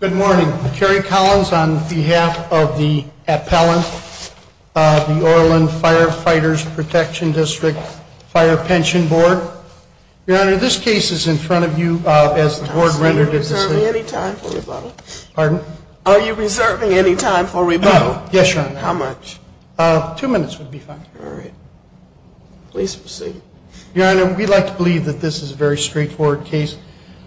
Good morning. Terry Collins on behalf of the appellant of the Orland Firefighters' Protection District Fire Pension Board. Your Honor, this case is in front of you as the board rendered its decision. Are you reserving any time for rebuttal? Pardon? Are you reserving any time for rebuttal? No. Yes, Your Honor. How much? Two minutes would be fine. All right. Please proceed. Your Honor, we like to believe that this is a very straightforward case.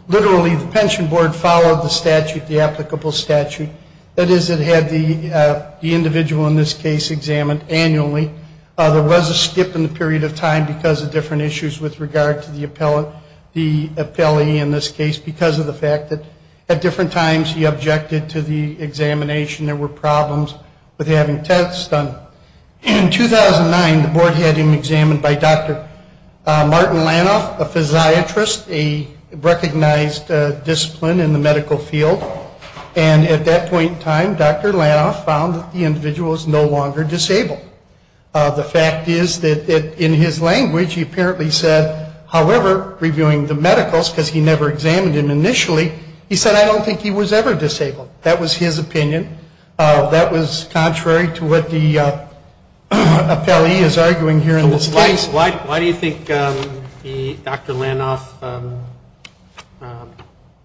Literally, the pension board followed the statute, the applicable statute. That is, it had the individual in this case examined annually. There was a skip in the period of time because of different issues with regard to the appellee in this case because of the fact that at different times he objected to the examination. There were problems with having tests done. In 2009, the board had him examined by Dr. Martin Lanoff, a physiatrist, a recognized discipline in the medical field. And at that point in time, Dr. Lanoff found that the individual was no longer disabled. The fact is that in his language, he apparently said, however, reviewing the medicals, because he never examined him initially, he said, I don't think he was ever disabled. That was his opinion. That was contrary to what the appellee is arguing here in this case. Why do you think Dr. Lanoff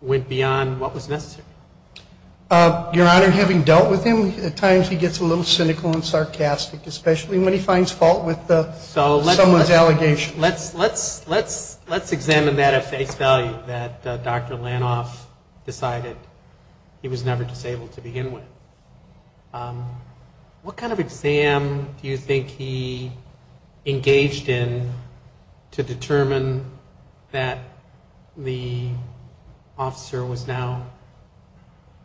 went beyond what was necessary? Your Honor, having dealt with him, at times he gets a little cynical and sarcastic, especially when he finds fault with someone's allegation. Let's examine that at face value, that Dr. Lanoff decided he was never disabled to begin with. What kind of exam do you think he engaged in to determine that the officer was now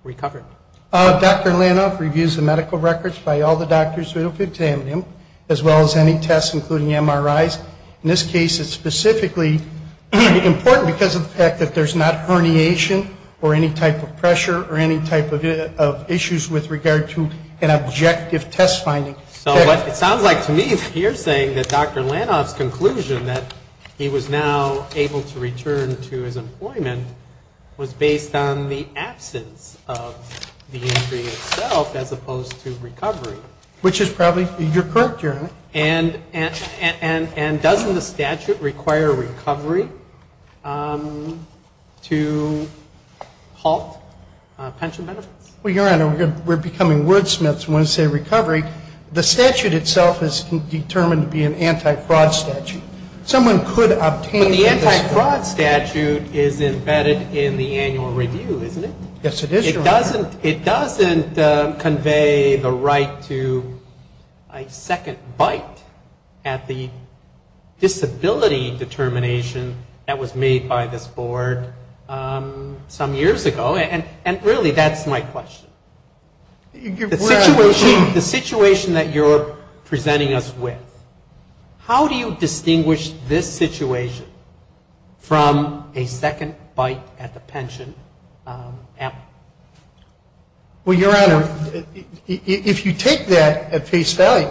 recovered? Dr. Lanoff reviews the medical records by all the doctors who have examined him, as well as any tests, including MRIs. In this case, it's specifically important because of the fact that there's not herniation or any type of pressure or any type of issues with regard to an objective test finding. So it sounds like to me you're saying that Dr. Lanoff's conclusion that he was now able to return to his employment was based on the absence of the injury itself as opposed to recovery. And doesn't the statute require recovery to halt pension benefits? Well, Your Honor, we're becoming wordsmiths when we say recovery. The statute itself is determined to be an anti-fraud statute. Someone could obtain this. But the anti-fraud statute is embedded in the annual review, isn't it? Yes, it is, Your Honor. It doesn't convey the right to a second bite at the disability determination that was made by this board some years ago. And really, that's my question. The situation that you're presenting us with, how do you distinguish this situation from a second bite at the pension? Well, Your Honor, if you take that at face value,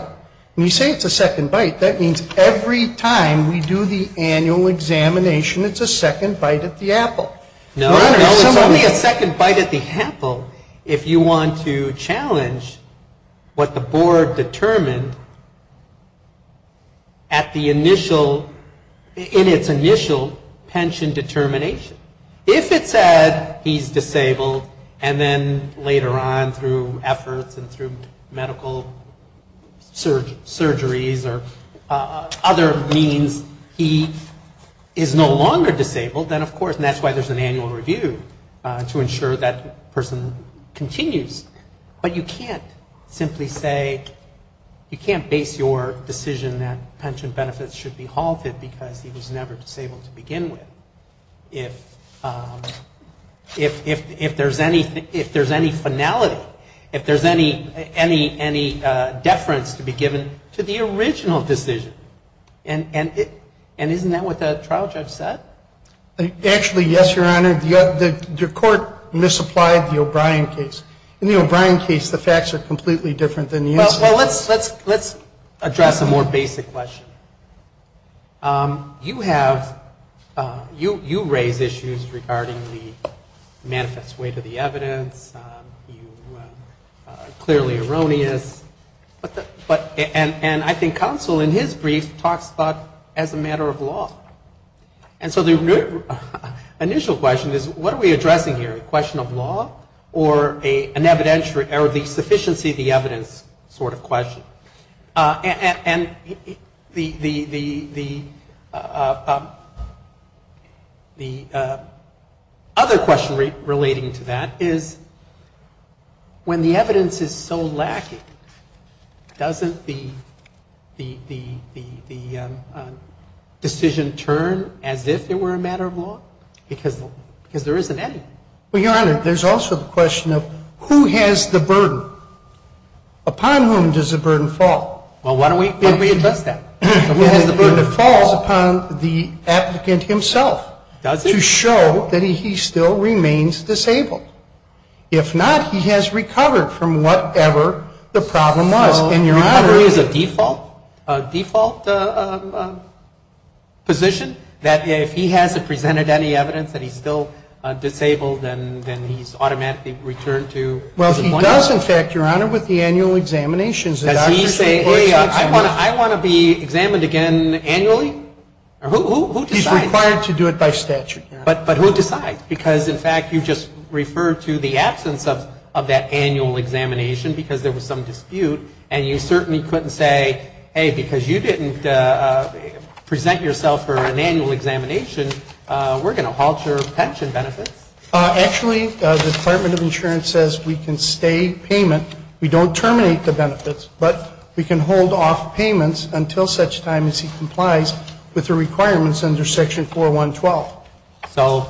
and you say it's a second bite, that means every time we do the annual examination, it's a second bite at the apple. No, Your Honor. It's only a second bite at the apple if you want to challenge what the board determined at the initial, in its initial pension determination. If it said he's disabled, and then later on through efforts and through medical surgeries or other means, he is no longer disabled, then of course, and that's why there's an annual review, to ensure that person continues. But you can't simply say, you can't base your decision that pension benefits should be halted because he was never disabled to begin with if there's any finality, if there's any deference to be given to the original decision. And isn't that what the trial judge said? Actually, yes, Your Honor. The court misapplied the O'Brien case. In the O'Brien case, the facts are completely different than the incident. Well, let's address a more basic question. You have, you raise issues regarding the manifest weight of the evidence. You are clearly erroneous. And I think counsel in his brief talks about as a matter of law. And so the initial question is, what are we addressing here? A question of law or an evidentiary or the sufficiency of the evidence sort of question? And the other question relating to that is, when the evidence is so lacking, doesn't the decision turn as if it were a matter of law? Because there isn't any. Well, Your Honor, there's also the question of who has the burden? Upon whom does the burden fall? Well, why don't we address that? The burden falls upon the applicant himself. Does it? To show that he still remains disabled. If not, he has recovered from whatever the problem was. So recovery is a default position? That if he hasn't presented any evidence that he's still disabled, then he's automatically returned to his appointment? Well, he does, in fact, Your Honor, with the annual examinations. Does he say, hey, I want to be examined again annually? Who decides? He's required to do it by statute. But who decides? Because, in fact, you just referred to the absence of that annual examination because there was some dispute. And you certainly couldn't say, hey, because you didn't present yourself for an annual examination, we're going to halt your pension benefits. Actually, the Department of Insurance says we can stay payment. We don't terminate the benefits, but we can hold off payments until such time as he complies with the requirements under Section 4.1.12. So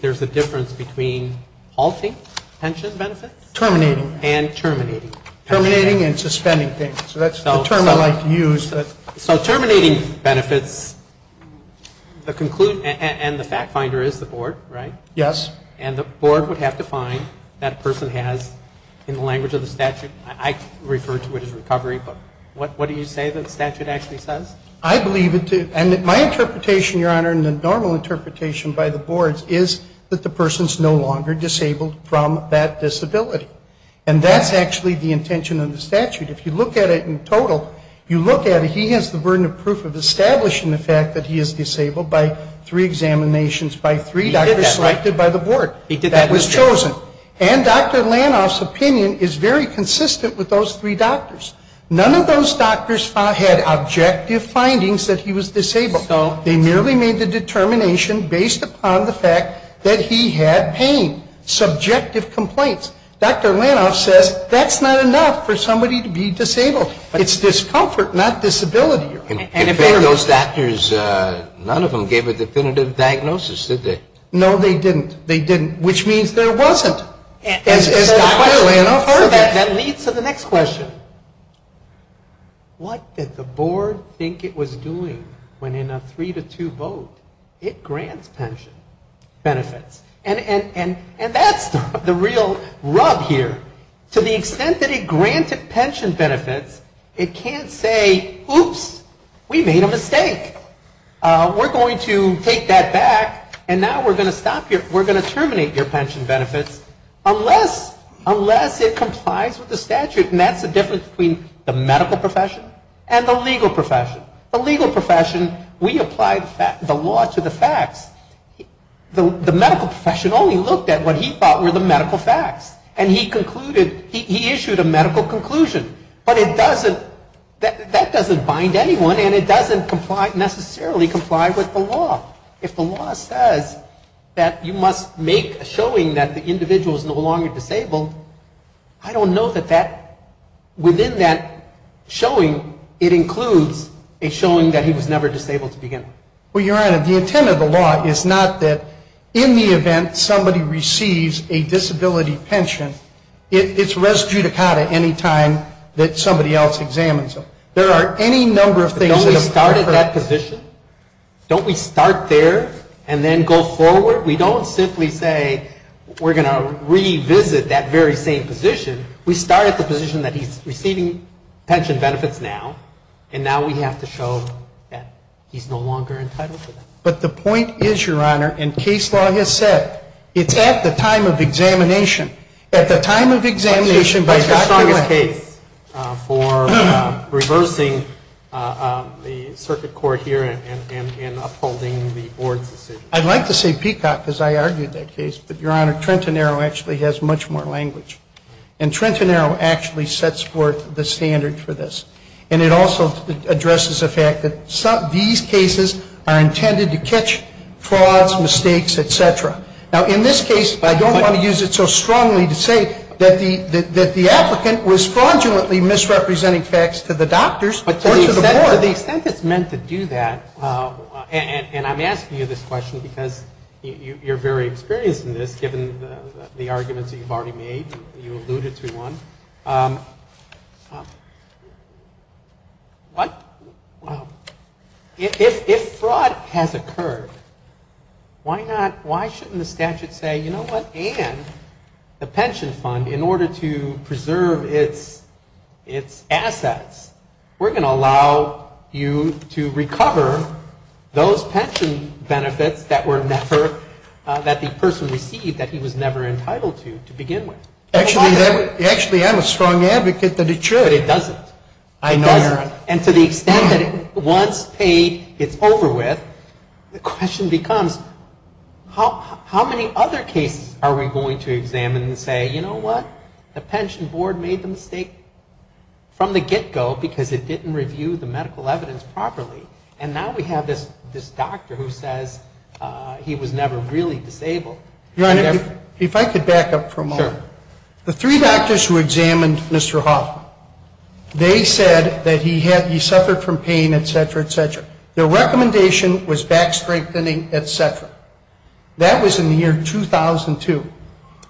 there's a difference between halting pension benefits? Terminating. And terminating. Terminating and suspending things. So that's the term I like to use. So terminating benefits, and the fact finder is the board, right? Yes. And the board would have to find that a person has, in the language of the statute, I refer to it as recovery, but what do you say the statute actually says? I believe it to, and my interpretation, Your Honor, and the normal interpretation by the boards is that the person is no longer disabled from that disability. And that's actually the intention of the statute. If you look at it in total, you look at it, he has the burden of proof of establishing the fact that he is disabled by three examinations by three doctors selected by the board. He did that, right? That was chosen. And Dr. Lanoff's opinion is very consistent with those three doctors. None of those doctors had objective findings that he was disabled. No. They merely made the determination based upon the fact that he had pain. Subjective complaints. Dr. Lanoff says that's not enough for somebody to be disabled. It's discomfort, not disability. And if any of those doctors, none of them gave a definitive diagnosis, did they? No, they didn't. They didn't, which means there wasn't. As Dr. Lanoff said. So that leads to the next question. What did the board think it was doing when in a three-to-two vote it grants pension benefits? And that's the real rub here. To the extent that it granted pension benefits, it can't say, oops, we made a mistake. We're going to take that back and now we're going to stop your, we're going to And that's the difference between the medical profession and the legal profession. The legal profession, we applied the law to the facts. The medical profession only looked at what he thought were the medical facts. And he concluded, he issued a medical conclusion. But it doesn't, that doesn't bind anyone and it doesn't comply, necessarily comply with the law. If the law says that you must make a showing that the individual is no longer disabled, I don't know that that, within that showing, it includes a showing that he was never disabled to begin with. Well, Your Honor, the intent of the law is not that in the event somebody receives a disability pension, it's res judicata any time that somebody else examines them. There are any number of things that occur. But don't we start at that position? Don't we start there and then go forward? We don't simply say we're going to revisit that very same position. We start at the position that he's receiving pension benefits now. And now we have to show that he's no longer entitled to them. But the point is, Your Honor, and case law has said, it's at the time of examination. At the time of examination by Dr. Lange. That's your strongest case for reversing the circuit court here and upholding the board's decision. I'd like to say Peacock, because I argued that case. But, Your Honor, Trenton Arrow actually has much more language. And Trenton Arrow actually sets forth the standard for this. And it also addresses the fact that these cases are intended to catch frauds, mistakes, et cetera. Now, in this case, I don't want to use it so strongly to say that the applicant was fraudulently misrepresenting facts to the doctors or to the board. To the extent it's meant to do that, and I'm asking you this question because you're very experienced in this, given the arguments that you've already made. You alluded to one. What? If fraud has occurred, why shouldn't the statute say, you know what, and the pension fund, in order to preserve its assets, we're going to allow you to recover those pension benefits that were never, that the person received, that he was never entitled to, to begin with? Actually, I'm a strong advocate that it should. But it doesn't. I know, Your Honor. And to the extent that once paid, it's over with, the question becomes, how many other cases are we going to examine and say, you know what, the pension board made the mistake from the get-go because it didn't review the medical evidence properly, and now we have this doctor who says he was never really disabled. Your Honor, if I could back up for a moment. Sure. The three doctors who examined Mr. Hoffman, they said that he suffered from pain, et cetera, et cetera. Their recommendation was back strengthening, et cetera. That was in the year 2002.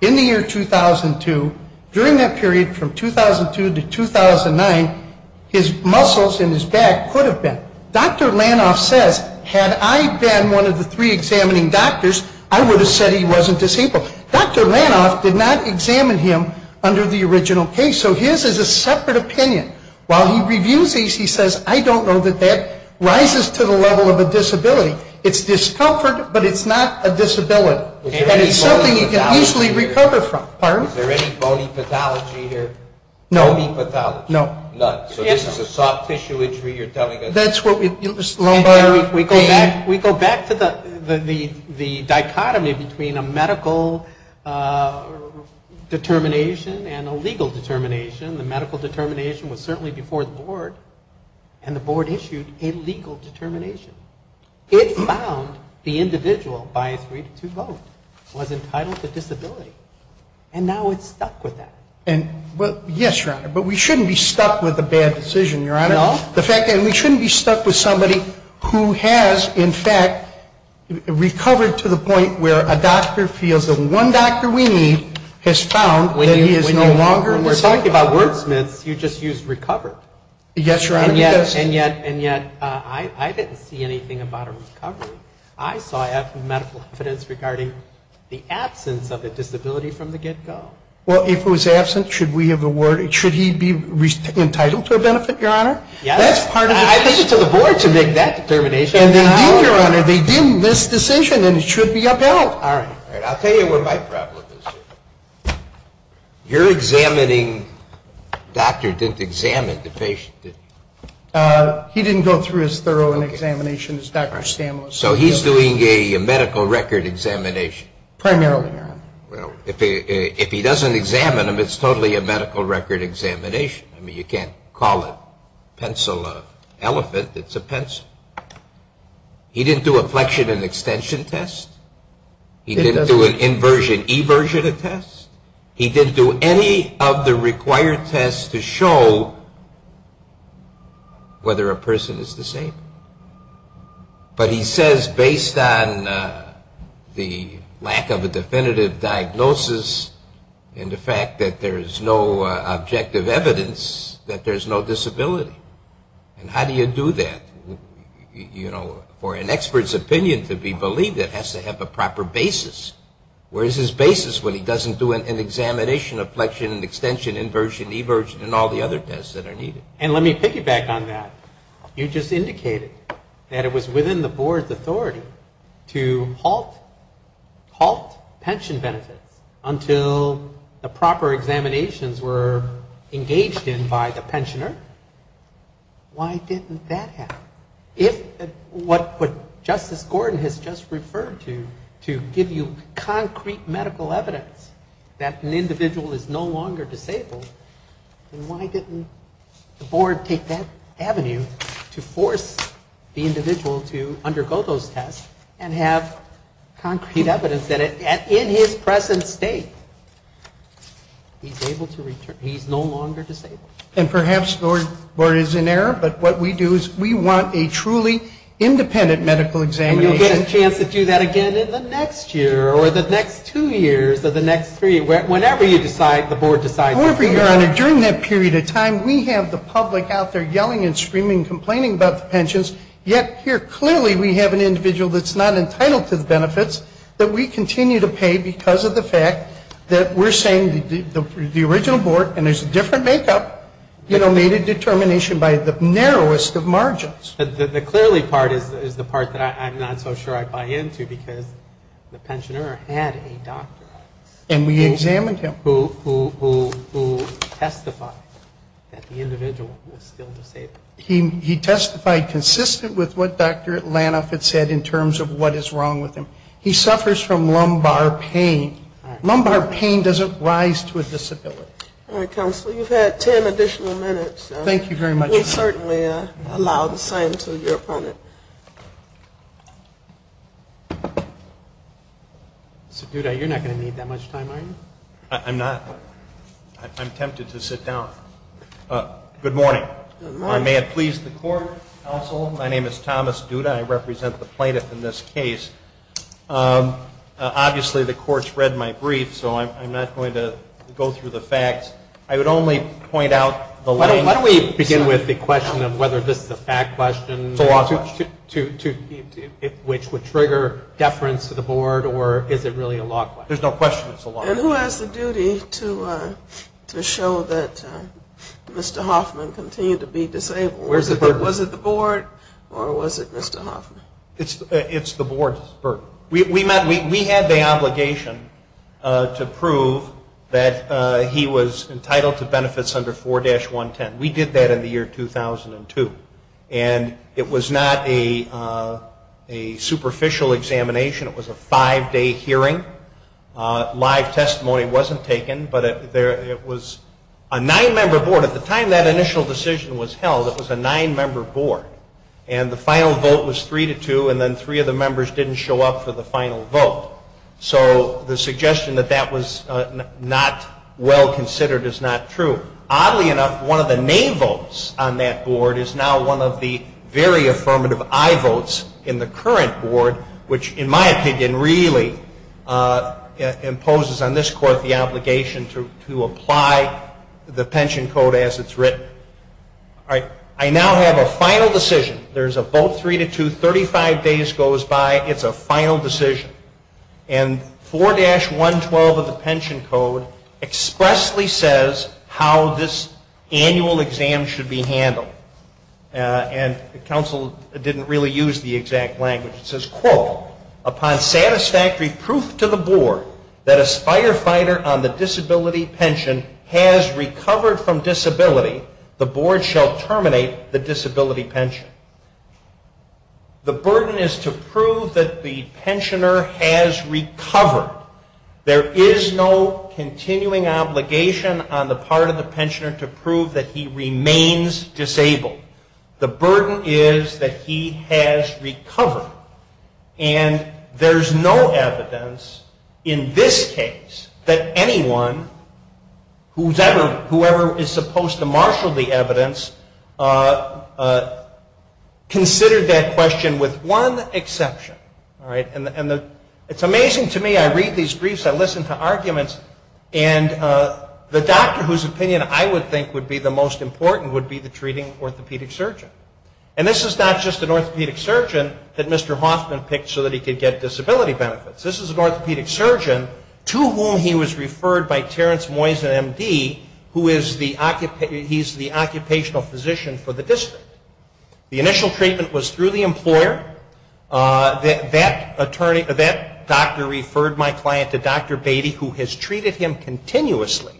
In the year 2002, during that period from 2002 to 2009, his muscles in his back could have been. Dr. Lanoff says, had I been one of the three examining doctors, I would have said he wasn't disabled. Dr. Lanoff did not examine him under the original case, so his is a separate opinion. While he reviews these, he says, I don't know that that rises to the level of a disability. It's discomfort, but it's not a disability. And it's something you can easily recover from. Pardon? Is there any bony pathology here? No. Bony pathology? No. None. So this is a soft tissue injury, you're telling us? That's what we. We go back to the dichotomy between a medical determination and a legal determination. The medical determination was certainly before the board, and the board issued a legal determination. It found the individual by a 3-2 vote was entitled to disability. And now it's stuck with that. Yes, Your Honor, but we shouldn't be stuck with a bad decision, Your Honor. No. And we shouldn't be stuck with somebody who has, in fact, recovered to the point where a doctor feels that one doctor we need has found that he is no longer disabled. When we're talking about wordsmiths, you just use recovered. Yes, Your Honor. And yet I didn't see anything about a recovery. I saw medical evidence regarding the absence of a disability from the get-go. Well, if it was absent, should we have awarded, should he be entitled to a benefit, Your Honor? Yes. That's part of the decision. I think it's up to the board to make that determination. And they did, Your Honor. They did this decision, and it should be upheld. All right. I'll tell you what my problem is. Your examining doctor didn't examine the patient, did he? He didn't go through as thorough an examination as Dr. Stan was. So he's doing a medical record examination. Primarily, Your Honor. Well, if he doesn't examine him, it's totally a medical record examination. I mean, you can't call a pencil an elephant. It's a pencil. He didn't do a flexion and extension test. He didn't do an inversion-eversion test. He didn't do any of the required tests to show whether a person is disabled. But he says, based on the lack of a definitive diagnosis and the fact that there is no objective evidence that there's no disability. And how do you do that? You know, for an expert's opinion to be believed, it has to have a proper basis. Where is his basis when he doesn't do an examination of flexion and extension, inversion-eversion, and all the other tests that are needed? And let me piggyback on that. You just indicated that it was within the board's authority to halt pension benefits until the proper examinations were engaged in by the pensioner. Why didn't that happen? If what Justice Gordon has just referred to to give you concrete medical evidence that an individual is no longer disabled, then why didn't the board take that avenue to force the individual to undergo those tests and have concrete evidence that in his present state he's no longer disabled? And perhaps the board is in error, but what we do is we want a truly independent medical examination. And you'll get a chance to do that again in the next year or the next two years or the next three, whenever you decide, the board decides. However, Your Honor, during that period of time, we have the public out there yelling and screaming and complaining about the pensions, yet here clearly we have an individual that's not entitled to the benefits that we continue to pay because of the fact that we're saying the original board, and there's a different makeup, you know, made a determination by the narrowest of margins. But the clearly part is the part that I'm not so sure I buy into because the pensioner had a doctor on him. And we examined him. Who testified that the individual was still disabled. He testified consistent with what Dr. Lanoff had said in terms of what is wrong with him. He suffers from lumbar pain. Lumbar pain doesn't rise to a disability. All right, Counselor. You've had ten additional minutes. Thank you very much. We certainly allow the same to your opponent. So, Duda, you're not going to need that much time, are you? I'm not. I'm tempted to sit down. Good morning. Good morning. May it please the Court, Counsel. My name is Thomas Duda. I represent the plaintiff in this case. Obviously, the Court's read my brief, so I'm not going to go through the facts. I would only point out the length. Why don't we begin with the question of whether this is a fact question, which would trigger deference to the Board, or is it really a law question? There's no question it's a law question. And who has the duty to show that Mr. Hoffman continued to be disabled? Was it the Board or was it Mr. Hoffman? It's the Board's burden. We had the obligation to prove that he was entitled to benefits under 4-110. We did that in the year 2002, and it was not a superficial examination. It was a five-day hearing. Live testimony wasn't taken, but it was a nine-member Board. At the time that initial decision was held, it was a nine-member Board, and the final vote was 3-2, and then three of the members didn't show up for the final vote. So the suggestion that that was not well considered is not true. Oddly enough, one of the nay votes on that Board is now one of the very affirmative aye votes in the current Board, which, in my opinion, really imposes on this Court the obligation to apply the pension code as it's written. I now have a final decision. There's a vote 3-2. Thirty-five days goes by. It's a final decision. And 4-112 of the pension code expressly says how this annual exam should be handled, and the counsel didn't really use the exact language. It says, quote, Upon satisfactory proof to the Board that a firefighter on the disability pension has recovered from disability, the Board shall terminate the disability pension. The burden is to prove that the pensioner has recovered. There is no continuing obligation on the part of the pensioner to prove that he remains disabled. The burden is that he has recovered. And there's no evidence in this case that anyone, whoever is supposed to marshal the evidence, considered that question with one exception. It's amazing to me. I read these briefs. I listen to arguments. And the doctor whose opinion I would think would be the most important would be the treating orthopedic surgeon. And this is not just an orthopedic surgeon that Mr. Hoffman picked so that he could get disability benefits. This is an orthopedic surgeon to whom he was referred by Terrence Moyes, an M.D., who is the occupational physician for the district. The initial treatment was through the employer. That doctor referred my client to Dr. Beatty, who has treated him continuously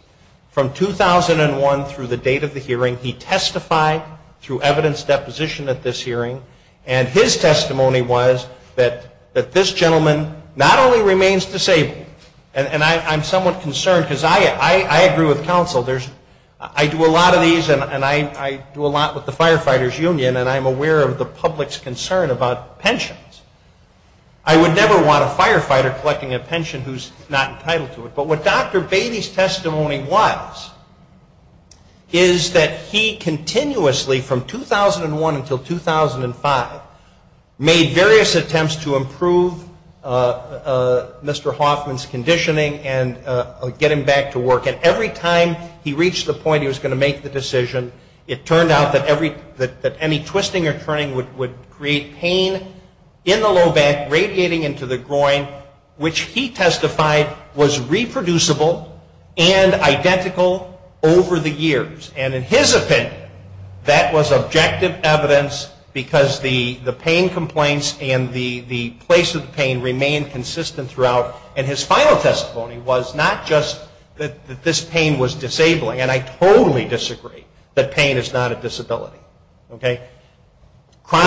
from 2001 through the date of the hearing. He testified through evidence deposition at this hearing. And his testimony was that this gentleman not only remains disabled, and I'm somewhat concerned because I agree with counsel. I do a lot of these, and I do a lot with the Firefighters Union, and I'm aware of the public's concern about pensions. I would never want a firefighter collecting a pension who's not entitled to it. But what Dr. Beatty's testimony was is that he continuously, from 2001 until 2005, made various attempts to improve Mr. Hoffman's conditioning and get him back to work. And every time he reached the point he was going to make the decision, it turned out that any twisting or turning would create pain in the low back, radiating into the groin, which he testified was reproducible and identical over the years. And in his opinion, that was objective evidence because the pain complaints and the place of the pain remained consistent throughout. And his final testimony was not just that this pain was disabling, and I totally disagree that pain is not a disability. But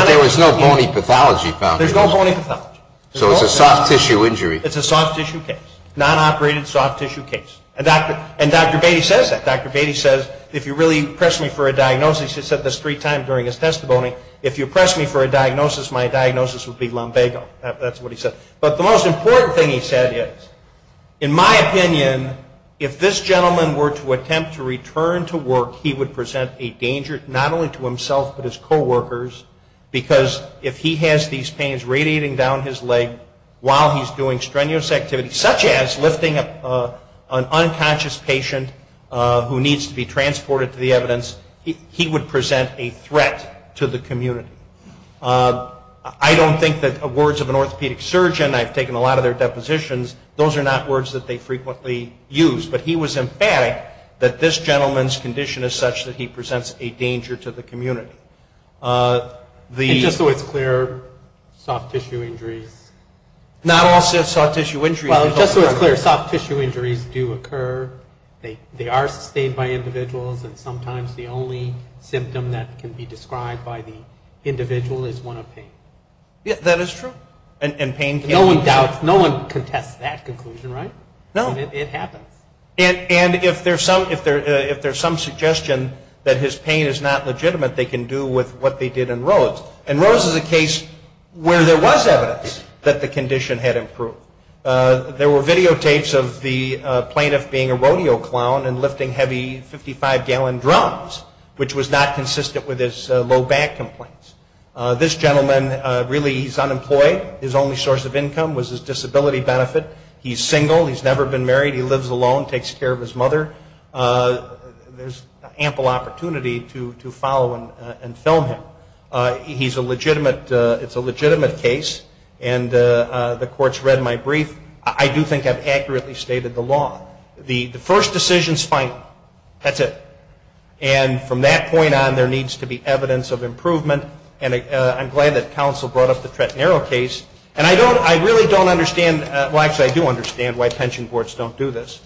there was no bony pathology found. There's no bony pathology. So it's a soft tissue injury. It's a soft tissue case, non-operated soft tissue case. And Dr. Beatty says that. Dr. Beatty says, if you really press me for a diagnosis, he said this three times during his testimony, if you press me for a diagnosis, my diagnosis would be lumbago. That's what he said. But the most important thing he said is, in my opinion, if this gentleman were to attempt to return to work, he would present a danger not only to himself but his coworkers, because if he has these pains radiating down his leg while he's doing strenuous activity, such as lifting an unconscious patient who needs to be transported to the evidence, he would present a threat to the community. I don't think that words of an orthopedic surgeon, I've taken a lot of their depositions, those are not words that they frequently use. But he was emphatic that this gentleman's condition is such that he presents a danger to the community. And just so it's clear, soft tissue injuries. Not all soft tissue injuries. Well, just so it's clear, soft tissue injuries do occur. They are sustained by individuals. And sometimes the only symptom that can be described by the individual is one of pain. That is true. No one doubts, no one contests that conclusion, right? No. It happens. And if there's some suggestion that his pain is not legitimate, they can do with what they did in Rhodes. And Rhodes is a case where there was evidence that the condition had improved. There were videotapes of the plaintiff being a rodeo clown and lifting heavy 55-gallon drums, which was not consistent with his low back complaints. This gentleman, really he's unemployed. His only source of income was his disability benefit. He's single. He's never been married. He lives alone, takes care of his mother. There's ample opportunity to follow and film him. He's a legitimate, it's a legitimate case. And the court's read my brief. I do think I've accurately stated the law. The first decision's final. That's it. And from that point on, there needs to be evidence of improvement. And I'm glad that counsel brought up the Tretnero case. And I don't, I really don't understand, well, actually I do understand why pension boards don't do this.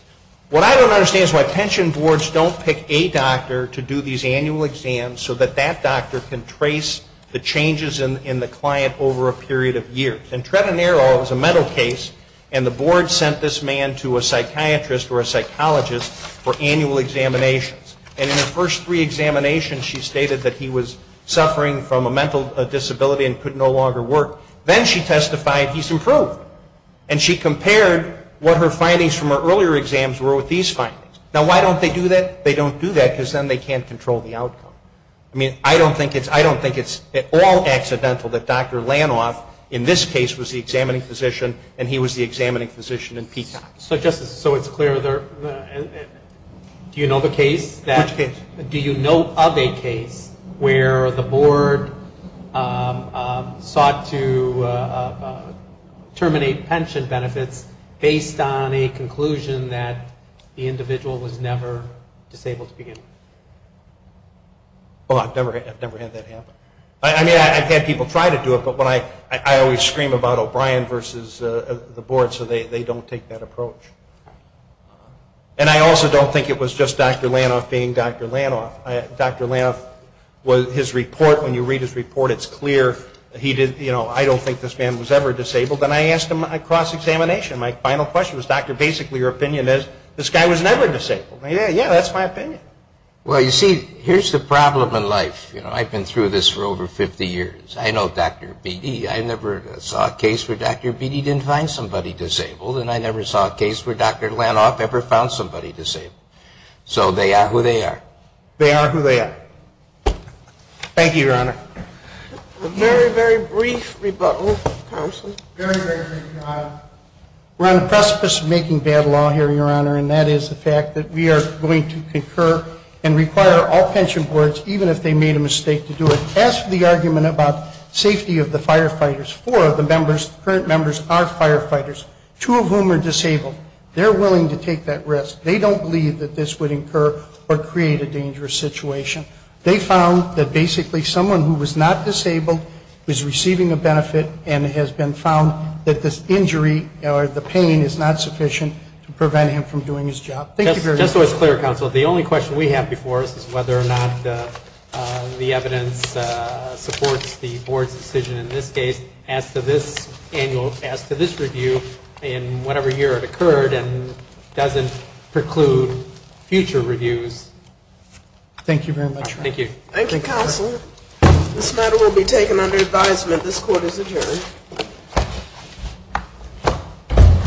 What I don't understand is why pension boards don't pick a doctor to do these annual exams so that that doctor can trace the changes in the client over a period of years. And Tretnero, it was a mental case, and the board sent this man to a psychiatrist or a psychologist for annual examinations. And in the first three examinations, she stated that he was suffering from a mental disability and could no longer work. Then she testified he's improved. And she compared what her findings from her earlier exams were with these findings. Now, why don't they do that? They don't do that because then they can't control the outcome. I mean, I don't think it's at all accidental that Dr. Lanoff in this case was the examining physician and he was the examining physician in Peacock. So, Justice, so it's clear. Do you know the case? Which case? Do you know of a case where the board sought to terminate pension benefits based on a conclusion that the individual was never disabled to begin with? Well, I've never had that happen. I mean, I've had people try to do it, but I always scream about O'Brien versus the board so they don't take that approach. And I also don't think it was just Dr. Lanoff being Dr. Lanoff. Dr. Lanoff, his report, when you read his report, it's clear. I don't think this man was ever disabled. And I asked him at cross-examination, my final question was, Doctor, basically your opinion is this guy was never disabled. Yeah, that's my opinion. Well, you see, here's the problem in life. I've been through this for over 50 years. I know Dr. Beatty. I never saw a case where Dr. Beatty didn't find somebody disabled, and I never saw a case where Dr. Lanoff ever found somebody disabled. So they are who they are. They are who they are. Thank you, Your Honor. A very, very brief rebuttal, counsel. Very, very brief. We're on the precipice of making bad law here, Your Honor, and that is the fact that we are going to concur and require all pension boards, even if they made a mistake, to do it. As for the argument about safety of the firefighters, four of the members, current members, are firefighters, two of whom are disabled. They're willing to take that risk. They don't believe that this would incur or create a dangerous situation. They found that basically someone who was not disabled was receiving a benefit and has been found that this injury or the pain is not sufficient to prevent him from doing his job. Thank you very much. Just so it's clear, counsel, the only question we have before us is whether or not the evidence supports the board's decision in this case as to this annual, as to this review in whatever year it occurred and doesn't preclude future reviews. Thank you very much. Thank you. Thank you, counsel. This matter will be taken under advisement. This court is adjourned.